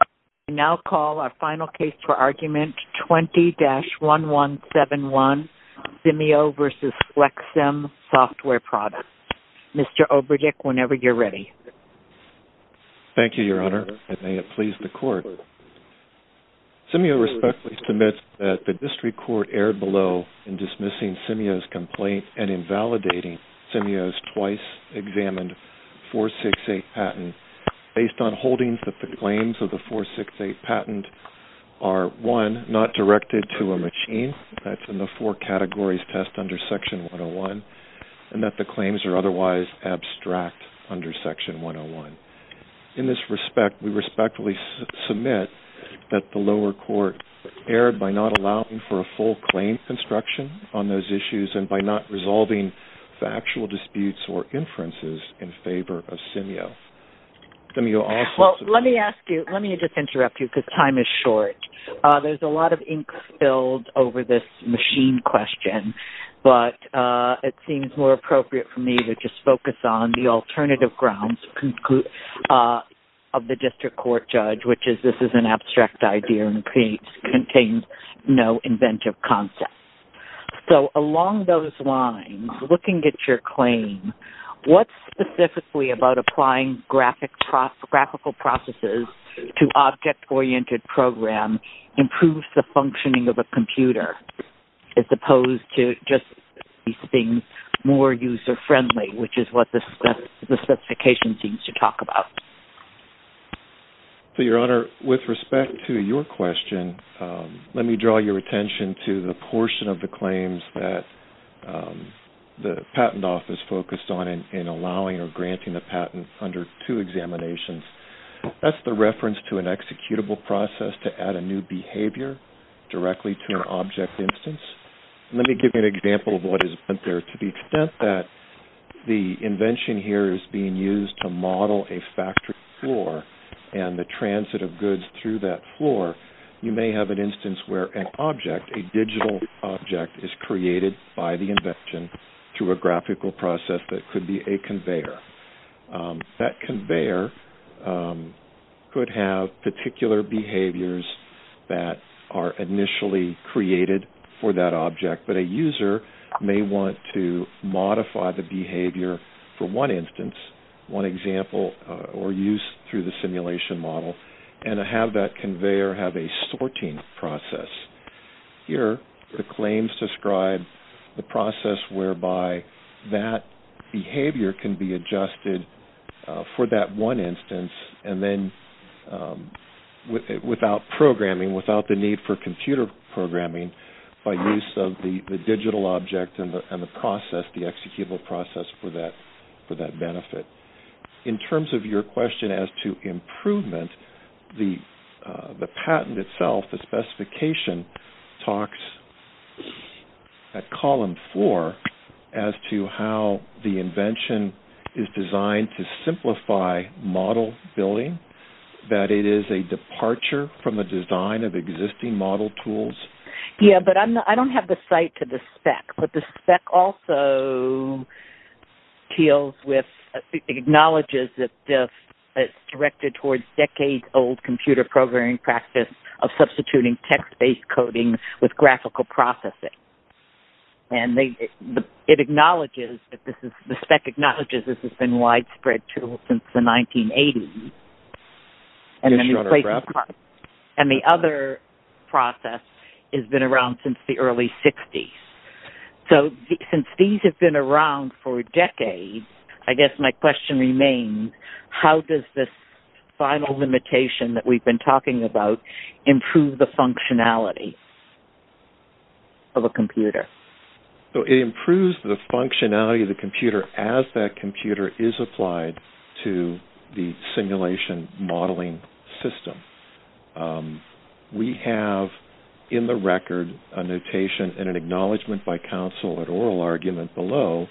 I now call our final case for argument, 20-1171, Simio v. FlexSim Software Products. Mr. Oberdick, whenever you're ready. Thank you, Your Honor, and may it please the Court. Simio respectfully submits that the District Court erred below in dismissing Simio's complaint and invalidating Simio's twice-examined 468 patent based on holdings that the claims of the 468 patent are, one, not directed to a machine, that's in the four categories test under Section 101, and that the claims are otherwise abstract under Section 101. In this respect, we respectfully submit that the lower court erred by not allowing for full claim construction on those issues and by not resolving factual disputes or inferences in favor of Simio. Well, let me ask you, let me just interrupt you because time is short. There's a lot of ink spilled over this machine question, but it seems more appropriate for me to just focus on the alternative grounds of the District Court judge, which is this is an abstract idea and contains no inventive concept. So along those lines, looking at your claim, what specifically about applying graphical processes to object-oriented program improves the functioning of a computer as opposed to just these things more user-friendly, which is what the specification seems to talk about? Your Honor, with respect to your question, let me draw your attention to the portion of the claims that the Patent Office focused on in allowing or granting the patent under two examinations. That's the reference to an executable process to add a new behavior directly to an object instance. Let me give you an example of what is there to the extent that the invention here is being used to model a factory floor and the transit of goods through that floor. You may have an instance where an object, a digital object, is created by the invention through a graphical process that could be a conveyor. That conveyor could have particular behaviors that are initially created for that object, but a user may want to modify the behavior for one instance, one example, or use through the simulation model and have that conveyor have a sorting process. Here, the claims describe the process whereby that behavior can be adjusted for that one instance and then without programming, without the need for computer programming, by use of the digital object and the process, the executable process for that benefit. In terms of your question as to improvement, the patent itself, the specification, talks at column four as to how the invention is designed to simplify model building, that it is a departure from the design of existing model tools. Yes, but I don't have the site to the spec, but the spec also acknowledges that it's directed towards decades-old computer programming practice of substituting text-based coding with graphical processing. The spec acknowledges this has been widespread since the 1980s, and the other process has been around since the early 60s. Since these have been around for decades, I guess my question remains, how does this final limitation that we've been talking about improve the functionality of a computer? It improves the functionality of the computer as that computer is applied to the simulation modeling system. We have in the record a notation and an acknowledgment by counsel at oral argument below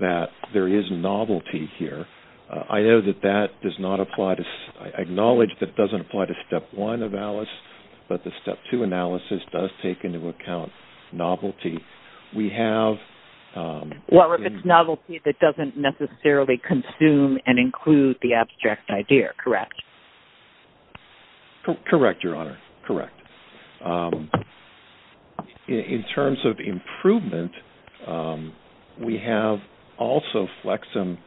that there is novelty here. I acknowledge that doesn't apply to step one of ALICE, but the step two analysis does take into account novelty. Well, if it's novelty, it doesn't necessarily consume and include the abstract idea, correct? Correct, Your Honor, correct. In terms of improvement, we have also FlexM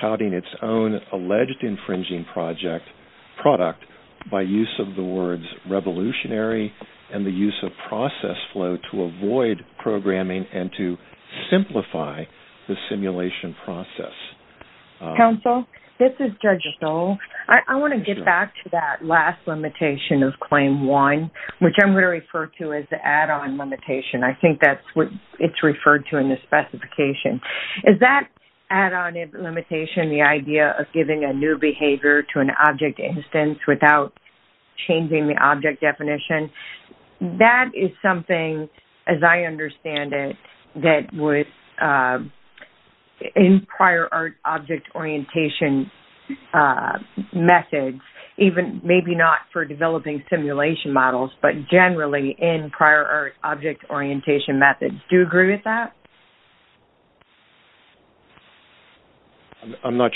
touting its own alleged infringing product by use of the words revolutionary and the use of process flow to avoid programming and to simplify the simulation process. Counsel, this is Judge Stoll. I want to get back to that last limitation of claim one, which I'm going to refer to as the add-on limitation. I think that's what it's referred to in the specification. Is that add-on limitation the idea of giving a new behavior to an object instance without changing the object definition? That is something, as I understand it, that would in prior art object orientation methods, even maybe not for developing simulation models, but generally in prior art object orientation methods. Do you agree with that? One of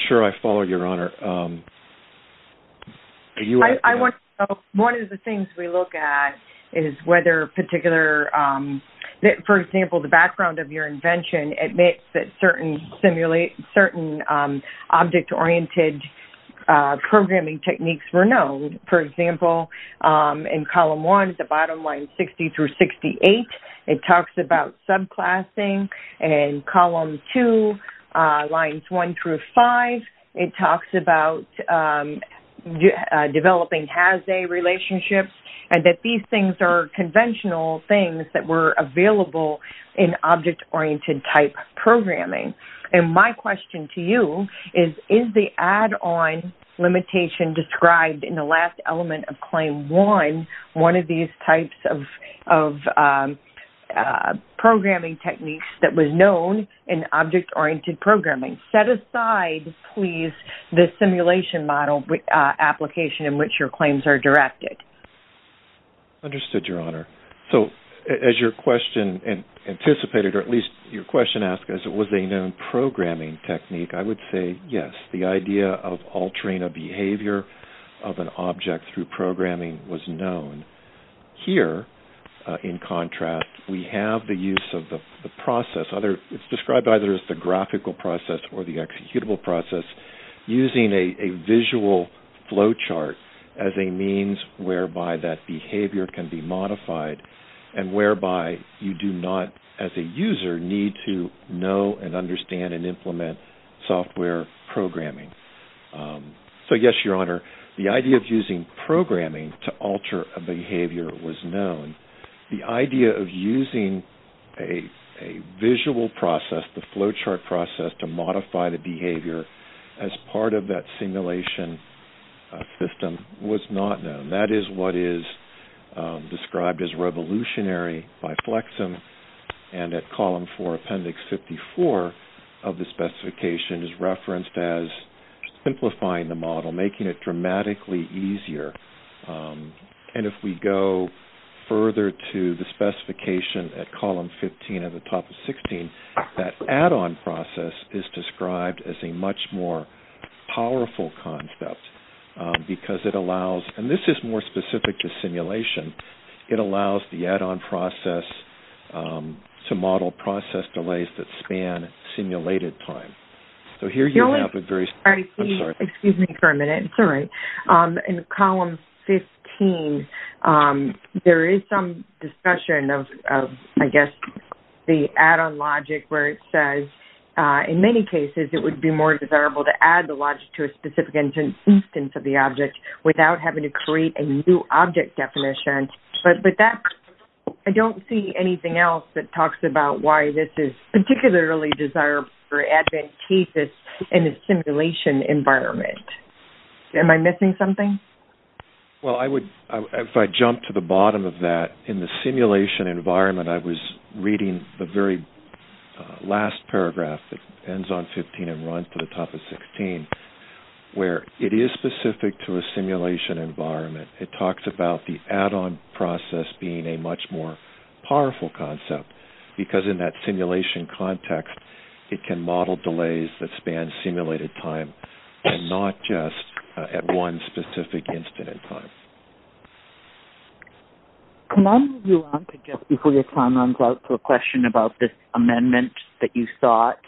the things we look at is whether, for example, the background of your invention admits that certain object-oriented programming techniques were known. For example, in column one, the bottom line 60 through 68, it talks about subclassing. In column two, lines one through five, it talks about developing has-they relationships and that these things are conventional things that were available in object-oriented type programming. My question to you is, is the add-on limitation described in the last element of claim one one of these types of programming techniques that was known in object-oriented programming? Set aside, please, the simulation model application in which your claims are directed. Understood, Your Honor. As your question anticipated, or at least your question asked, was it a known programming technique, I would say yes. The idea of altering a behavior of an object through programming was known. Here, in contrast, we have the use of the process. It's described either as the graphical process or the executable process, using a visual flow chart as a means whereby that behavior can be modified and whereby you do not, as a user, need to know and understand and implement software programming. So, yes, Your Honor, the idea of using programming to alter a behavior was known. The idea of using a visual process, the flow chart process, to modify the behavior as part of that simulation system was not known. That is what is described as revolutionary by FlexM. And at Column 4, Appendix 54 of the specification is referenced as simplifying the model, making it dramatically easier. And if we go further to the specification at Column 15 at the top of 16, that add-on process is described as a much more powerful concept because it allows and this is more specific to simulation. It allows the add-on process to model process delays that span simulated time. So here you have a very... Excuse me for a minute. It's all right. In Column 15, there is some discussion of, I guess, the add-on logic where it says, in many cases, it would be more desirable to add the logic to a specific instance of the object without having to create a new object definition. But I don't see anything else that talks about why this is particularly desirable or advantageous in a simulation environment. Am I missing something? Well, if I jump to the bottom of that, in the simulation environment, I was reading the very last paragraph that ends on 15 and runs to the top of 16, where it is specific to a simulation environment. It talks about the add-on process being a much more powerful concept because in that simulation context, it can model delays that span simulated time and not just at one specific instant in time. Can I move you on to just before your time runs out to a question about this amendment that you sought?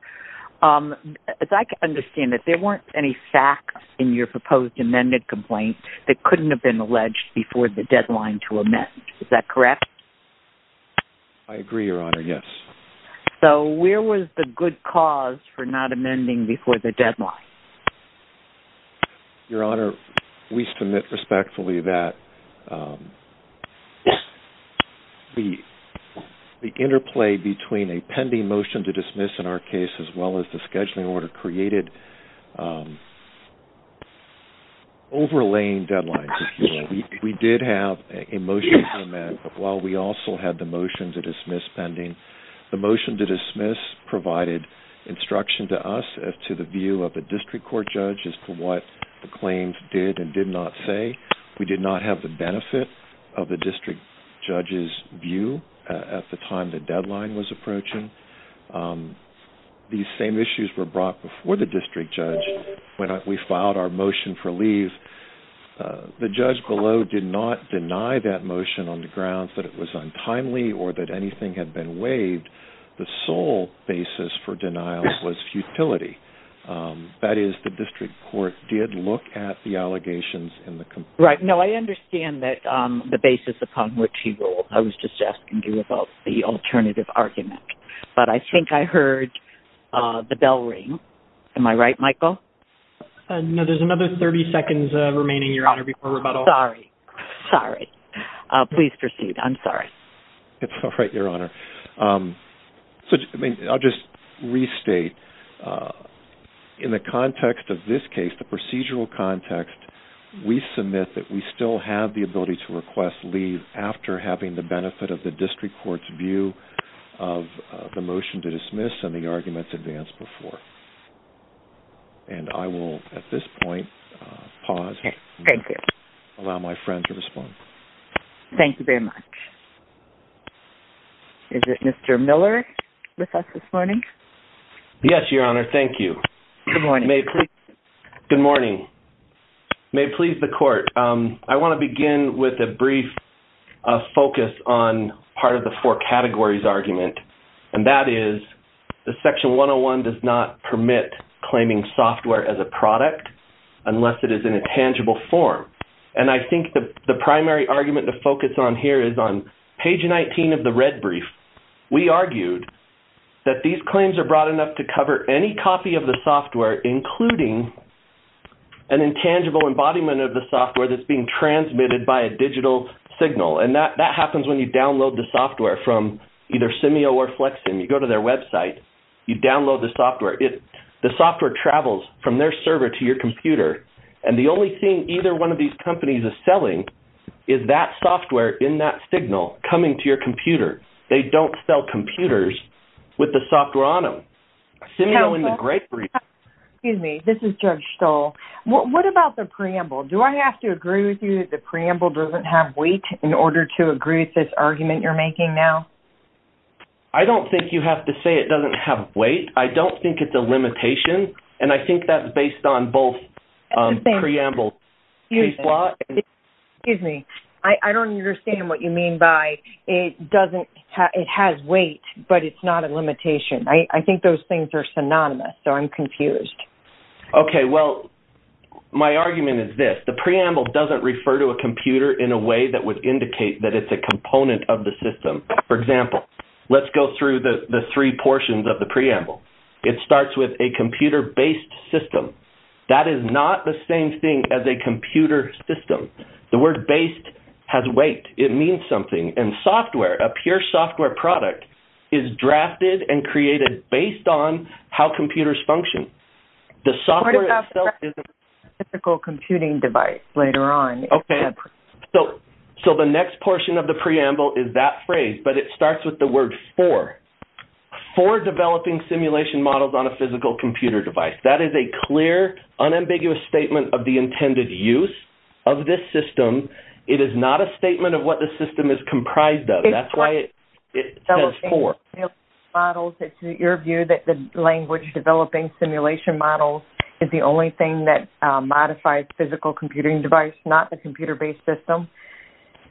As I can understand it, there weren't any facts in your proposed amended complaint that couldn't have been alleged before the deadline to amend. Is that correct? I agree, Your Honor, yes. So where was the good cause for not amending before the deadline? Your Honor, we submit respectfully that the interplay between a pending motion to dismiss in our case as well as the scheduling order created overlaying deadlines. We did have a motion to amend, but while we also had the motion to dismiss pending, the motion to dismiss provided instruction to us as to the view of the district court judge as to what the claims did and did not say. We did not have the benefit of the district judge's view at the time the deadline was approaching. These same issues were brought before the district judge when we filed our motion for leave. The judge below did not deny that motion on the grounds that it was untimely or that anything had been waived. The sole basis for denial was futility. That is, the district court did look at the allegations in the complaint. Right. No, I understand the basis upon which he ruled. I was just asking you about the alternative argument. But I think I heard the bell ring. Am I right, Michael? No, there's another 30 seconds remaining, Your Honor, before rebuttal. Sorry. Sorry. Please proceed. I'm sorry. It's all right, Your Honor. I'll just restate. In the context of this case, the procedural context, we submit that we still have the ability to request leave after having the benefit of the district court's view of the motion to dismiss and the arguments advanced before. And I will, at this point, pause and allow my friend to respond. Thank you very much. Is it Mr. Miller with us this morning? Yes, Your Honor. Thank you. Good morning. Good morning. May it please the Court. I want to begin with a brief focus on part of the four categories argument, and that is the Section 101 does not permit claiming software as a product unless it is in a tangible form. And I think the primary argument to focus on here is on page 19 of the red brief. We argued that these claims are broad enough to cover any copy of the software, including an intangible embodiment of the software that's being transmitted by a digital signal. And that happens when you download the software from either Simio or FlexSim. You go to their website, you download the software. The software travels from their server to your computer, and the only thing either one of these companies is selling is that software in that signal coming to your computer. They don't sell computers with the software on them. Simio in the gray brief. Excuse me. This is Judge Stoll. What about the preamble? Do I have to agree with you that the preamble doesn't have weight in order to agree with this argument you're making now? I don't think you have to say it doesn't have weight. I don't think it's a limitation, and I think that's based on both preambles. Excuse me. I don't understand what you mean by it has weight, but it's not a limitation. I think those things are synonymous, so I'm confused. Okay. Well, my argument is this. The preamble doesn't refer to a computer in a way that would indicate that it's a component of the system. For example, let's go through the three portions of the preamble. It starts with a computer-based system. That is not the same thing as a computer system. The word based has weight. It means something. And software, a pure software product, is drafted and created based on how computers function. The software itself isn't a physical computing device later on. Okay. So the next portion of the preamble is that phrase, but it starts with the word for. For developing simulation models on a physical computer device. That is a clear, unambiguous statement of the intended use of this system. It is not a statement of what the system is comprised of. That's why it says for. It's your view that the language developing simulation models is the only thing that modifies physical computing device, not the computer-based system?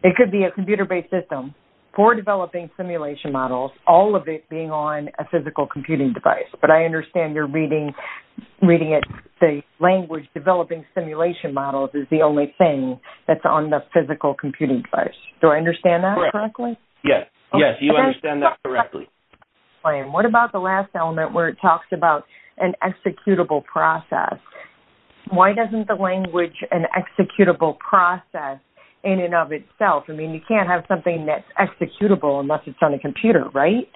It could be a computer-based system. For developing simulation models, all of it being on a physical computing device. But I understand you're reading it, the language developing simulation models is the only thing that's on the physical computing device. Do I understand that correctly? Yes. Yes, you understand that correctly. What about the last element where it talks about an executable process? Why doesn't the language, an executable process in and of itself, I mean you can't have something that's executable unless it's on a computer, right?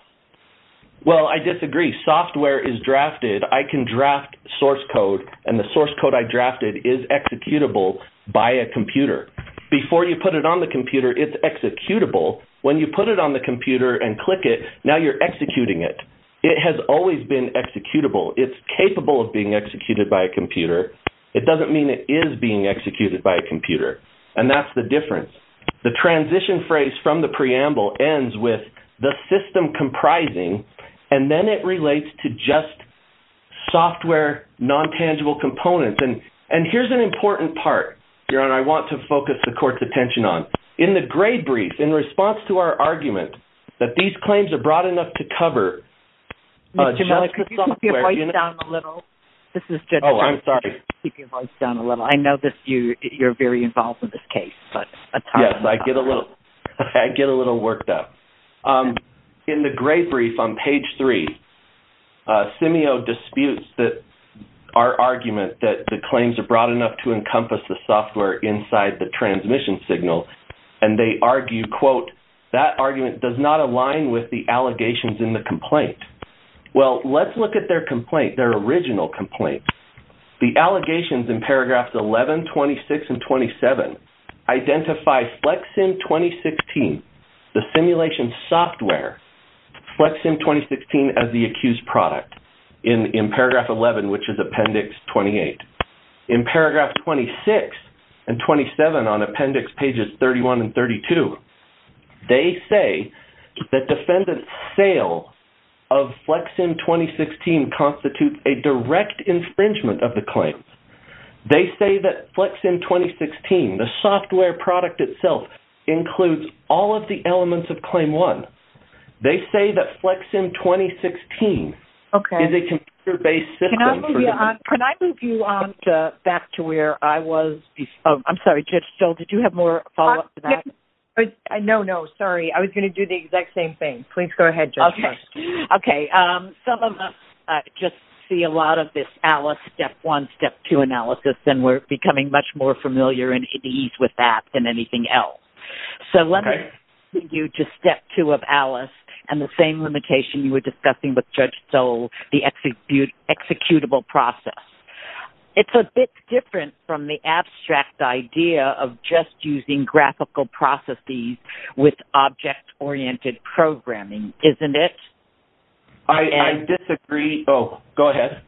Well, I disagree. Software is drafted. I can draft source code, and the source code I drafted is executable by a computer. Before you put it on the computer, it's executable. When you put it on the computer and click it, now you're executing it. It has always been executable. It's capable of being executed by a computer. It doesn't mean it is being executed by a computer. And that's the difference. The transition phrase from the preamble ends with the system comprising, and then it relates to just software non-tangible components. And here's an important part, Jaron, I want to focus the court's attention on. In the grade brief, in response to our argument that these claims are broad enough to cover software. Mr. Mudd, can you keep your voice down a little? Oh, I'm sorry. Keep your voice down a little. I know that you're very involved in this case. Yes, I get a little worked up. In the grade brief on page 3, Simio disputes our argument that the claims are broad enough to encompass the software inside the transmission signal, and they argue, quote, that argument does not align with the allegations in the complaint. Well, let's look at their complaint, their original complaint. The allegations in paragraphs 11, 26, and 27 identify FlexSim 2016, the simulation software, FlexSim 2016 as the accused product in paragraph 11, which is appendix 28. In paragraph 26 and 27 on appendix pages 31 and 32, they say that defendant's sale of FlexSim 2016 constitutes a direct infringement of the claim. They say that FlexSim 2016, the software product itself, includes all of the elements of Claim 1. They say that FlexSim 2016 is a computer-based system. Can I move you back to where I was before? I'm sorry, Judge Still, did you have more follow-up to that? No, no, sorry. I was going to do the exact same thing. Please go ahead, Judge. Okay. Some of us just see a lot of this Alice, Step 1, Step 2 analysis, and we're becoming much more familiar and at ease with that than anything else. So let me take you to Step 2 of Alice and the same limitation you were discussing with Judge Still, the executable process. It's a bit different from the abstract idea of just using graphical processes with object-oriented programming, isn't it? I disagree. Oh, go ahead.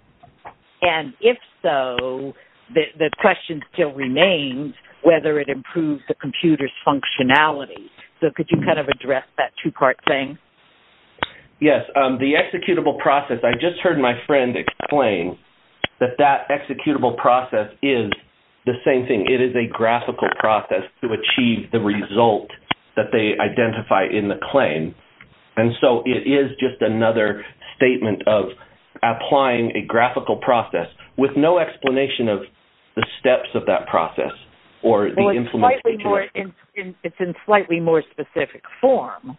And if so, the question still remains whether it improves the computer's functionality. So could you kind of address that two-part thing? Yes. The executable process, I just heard my friend explain that that executable process is the same thing. It is a graphical process to achieve the result that they identify in the claim. And so it is just another statement of applying a graphical process with no explanation of the steps of that process or the implementation. It's in slightly more specific form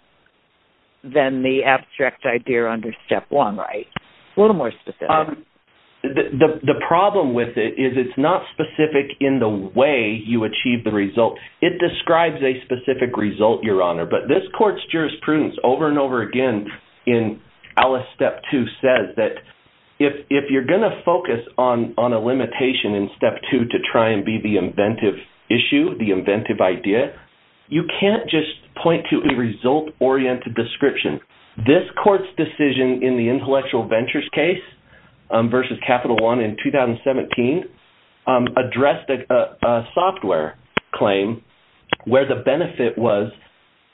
than the abstract idea under Step 1, right? A little more specific. The problem with it is it's not specific in the way you achieve the result. It describes a specific result, Your Honor, but this court's jurisprudence over and over again in Alice Step 2 says that if you're going to focus on a limitation in Step 2 to try and be the inventive issue, the inventive idea, you can't just point to a result-oriented description. This court's decision in the Intellectual Ventures case versus Capital One in 2017 addressed a software claim where the benefit was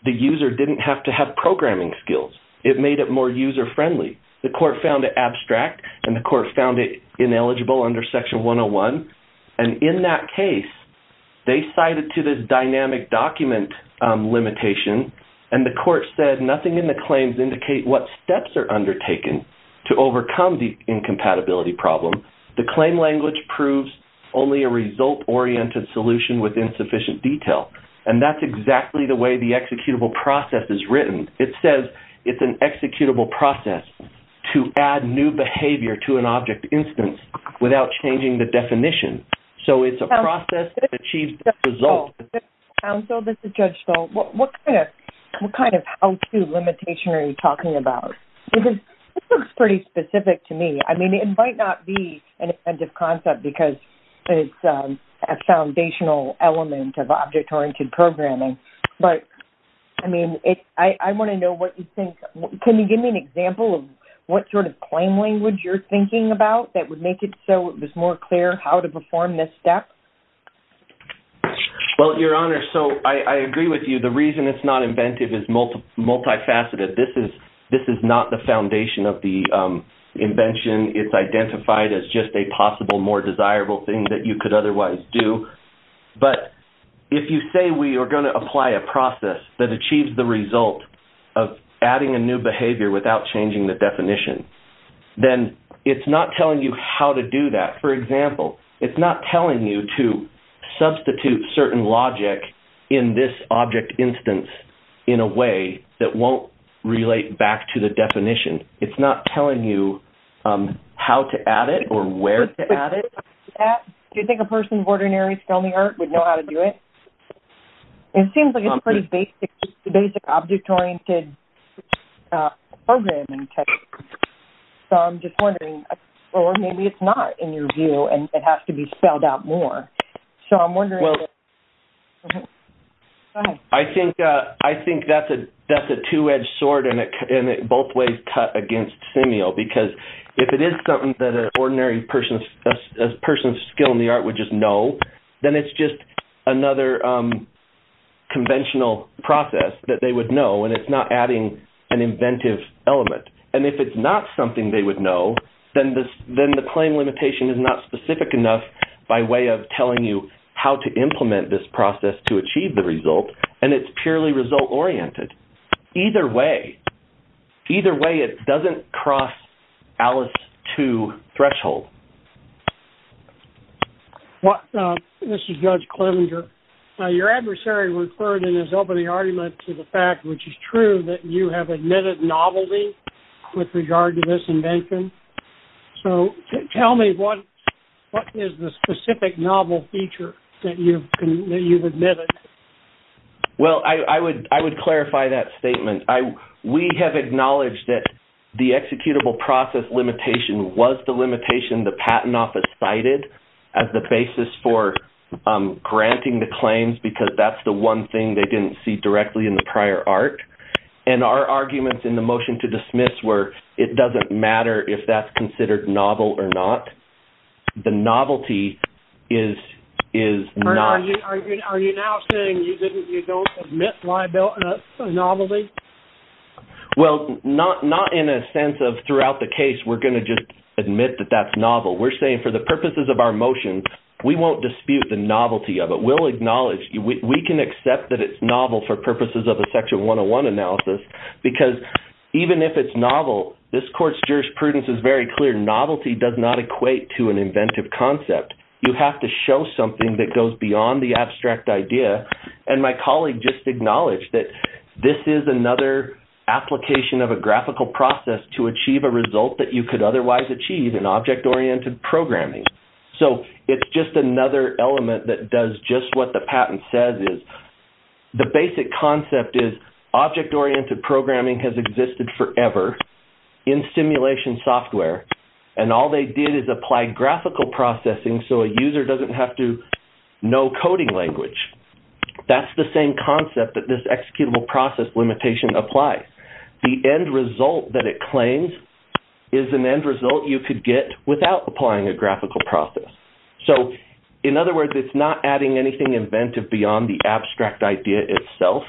the user didn't have to have programming skills. It made it more user-friendly. The court found it abstract, and the court found it ineligible under Section 101. And in that case, they cited to this dynamic document limitation, and the court said nothing in the claims indicate what steps are undertaken to overcome the incompatibility problem. The claim language proves only a result-oriented solution with insufficient detail. And that's exactly the way the executable process is written. It says it's an executable process to add new behavior to an object instance without changing the definition. So it's a process that achieves the result. Counsel, this is Judge Stoll. What kind of how-to limitation are you talking about? This looks pretty specific to me. I mean, it might not be an inventive concept because it's a foundational element of object-oriented programming. But, I mean, I want to know what you think. Can you give me an example of what sort of claim language you're thinking about that would make it so it was more clear how to perform this step? Well, Your Honor, so I agree with you. The reason it's not inventive is multifaceted. This is not the foundation of the invention. It's identified as just a possible more desirable thing that you could otherwise do. But if you say we are going to apply a process that achieves the result of adding a new behavior without changing the definition, then it's not telling you how to do that. For example, it's not telling you to substitute certain logic in this object instance in a way that won't relate back to the definition. It's not telling you how to add it or where to add it. Do you think a person of ordinary spelling art would know how to do it? It seems like it's pretty basic object-oriented programming. So I'm just wondering, or maybe it's not in your view and it has to be spelled out more. So I'm wondering. Well, I think that's a two-edged sword in both ways cut against Simio because if it is something that an ordinary person of skill in the art would just know, then it's just another conventional process that they would know, and it's not adding an inventive element. And if it's not something they would know, then the claim limitation is not specific enough by way of telling you how to implement this process to achieve the result, and it's purely result-oriented. Either way, it doesn't cross ALICE-II threshold. This is Judge Clemenger. Your adversary referred in his opening argument to the fact, which is true, that you have admitted novelty with regard to this invention. So tell me what is the specific novel feature that you've admitted? Well, I would clarify that statement. We have acknowledged that the executable process limitation was the limitation the Patent Office cited as the basis for granting the claims because that's the one thing they didn't see directly in the prior art. And our arguments in the motion to dismiss were, it doesn't matter if that's considered novel or not. The novelty is not. Are you now saying you don't admit liability of novelty? Well, not in a sense of throughout the case, we're going to just admit that that's novel. We're saying for the purposes of our motion, we won't dispute the novelty of it. We can accept that it's novel for purposes of a Section 101 analysis because even if it's novel, this Court's jurisprudence is very clear. Novelty does not equate to an inventive concept. You have to show something that goes beyond the abstract idea. And my colleague just acknowledged that this is another application of a graphical process to achieve a result that you could otherwise achieve in object-oriented programming. So it's just another element that does just what the patent says. The basic concept is object-oriented programming has existed forever in simulation software, and all they did is apply graphical processing so a user doesn't have to know coding language. That's the same concept that this executable process limitation applies. The end result that it claims is an end result you could get without applying a graphical process. So in other words, it's not adding anything inventive beyond the abstract idea itself.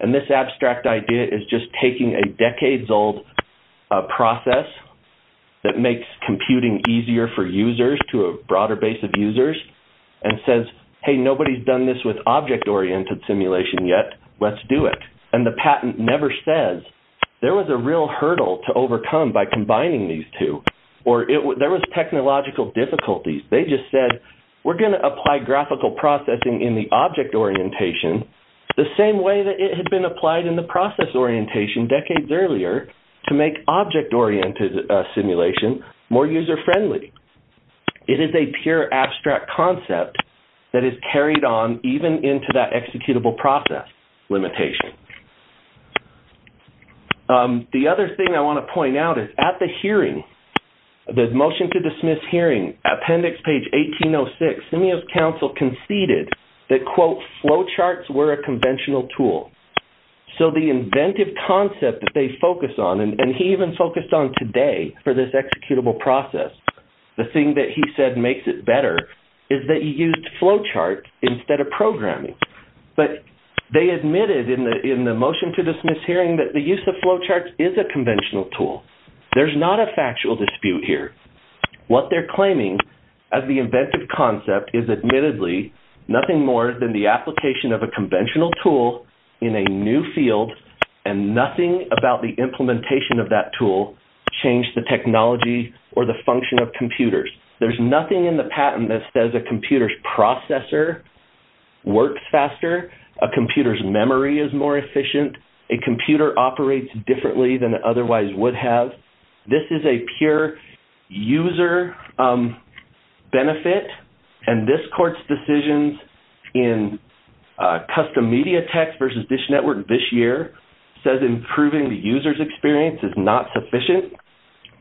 And this abstract idea is just taking a decades-old process that makes computing easier for users to a broader base of users and says, hey, nobody's done this with object-oriented simulation yet. Let's do it. And the patent never says there was a real hurdle to overcome by combining these two, or there was technological difficulties. They just said, we're going to apply graphical processing in the object orientation the same way that it had been applied in the process orientation decades earlier to make object-oriented simulation more user-friendly. It is a pure abstract concept that is carried on even into that executable process limitation. The other thing I want to point out is at the hearing, the motion to dismiss hearing, appendix page 1806, Simio's counsel conceded that, quote, flowcharts were a conventional tool. So the inventive concept that they focus on, and he even focused on today for this executable process, the thing that he said makes it better, is that you used flowcharts instead of programming. But they admitted in the motion to dismiss hearing that the use of flowcharts is a conventional tool. There's not a factual dispute here. What they're claiming as the inventive concept is admittedly nothing more than the application of a conventional tool in a new field and nothing about the implementation of that tool changed the technology or the function of computers. There's nothing in the patent that says a computer's processor works faster, a computer's memory is more efficient, a computer operates differently than it otherwise would have. This is a pure user benefit, and this court's decisions in custom media text versus Dish Network this year says improving the user's experience is not sufficient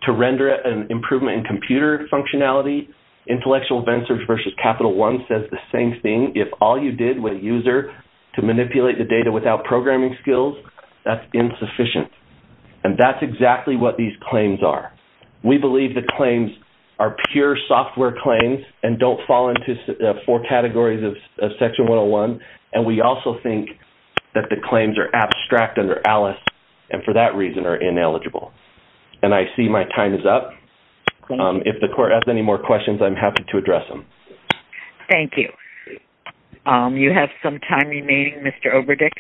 to render an improvement in computer functionality. Intellectual Event Search versus Capital One says the same thing. If all you did with a user to manipulate the data without programming skills, that's insufficient. And that's exactly what these claims are. We believe the claims are pure software claims and don't fall into four categories of Section 101, and we also think that the claims are abstract under ALICE and for that reason are ineligible. And I see my time is up. If the court has any more questions, I'm happy to address them. Thank you. You have some time remaining, Mr. Oberdick.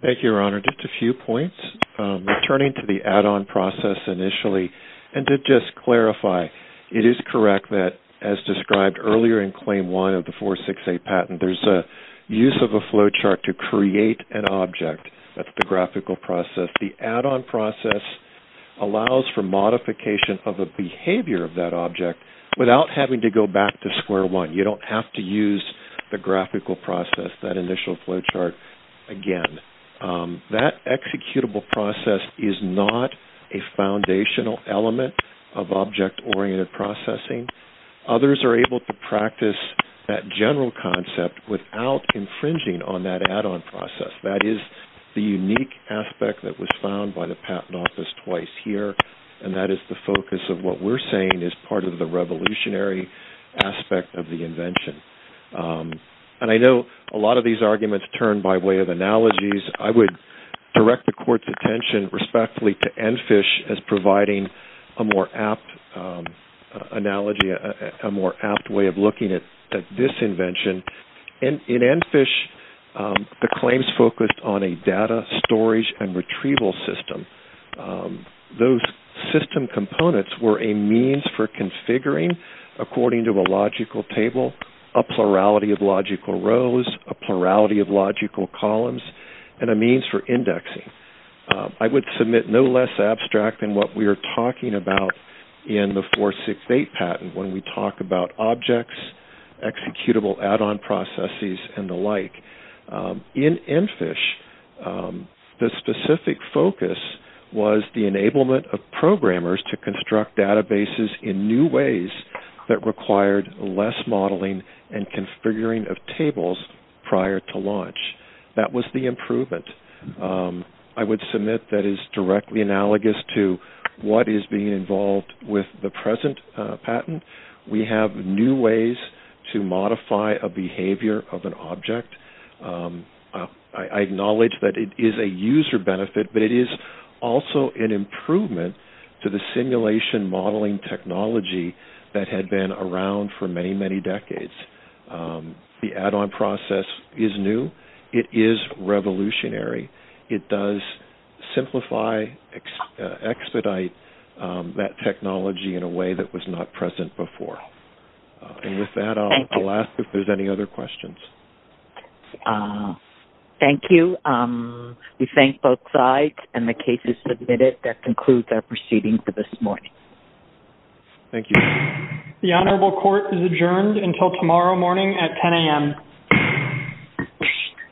Thank you, Your Honor. Just a few points. Returning to the add-on process initially and to just clarify, it is correct that, as described earlier in Claim 1 of the 468 patent, there's a use of a flowchart to create an object. That's the graphical process. The add-on process allows for modification of a behavior of that object without having to go back to square one. You don't have to use the graphical process, that initial flowchart again. That executable process is not a foundational element of object-oriented processing. Others are able to practice that general concept without infringing on that add-on process. That is the unique aspect that was found by the Patent Office twice here, and that is the focus of what we're saying is part of the revolutionary aspect of the invention. And I know a lot of these arguments turn by way of analogies. I would direct the Court's attention respectfully to ENFISH as providing a more apt analogy, a more apt way of looking at this invention. In ENFISH, the claims focused on a data storage and retrieval system. Those system components were a means for configuring, according to a logical table, a plurality of logical rows, a plurality of logical columns, and a means for indexing. I would submit no less abstract than what we are talking about in the 468 patent when we talk about objects, executable add-on processes, and the like. In ENFISH, the specific focus was the enablement of programmers to construct databases in new ways that required less modeling and configuring of tables prior to launch. That was the improvement. I would submit that is directly analogous to what is being involved with the present patent. We have new ways to modify a behavior of an object. I acknowledge that it is a user benefit, but it is also an improvement to the simulation modeling technology that had been around for many, many decades. The add-on process is new. It is revolutionary. It does simplify, expedite that technology in a way that was not present before. With that, I will ask if there are any other questions. Thank you. We thank both sides, and the case is submitted. That concludes our proceedings for this morning. Thank you. The Honorable Court is adjourned until tomorrow morning at 10 a.m.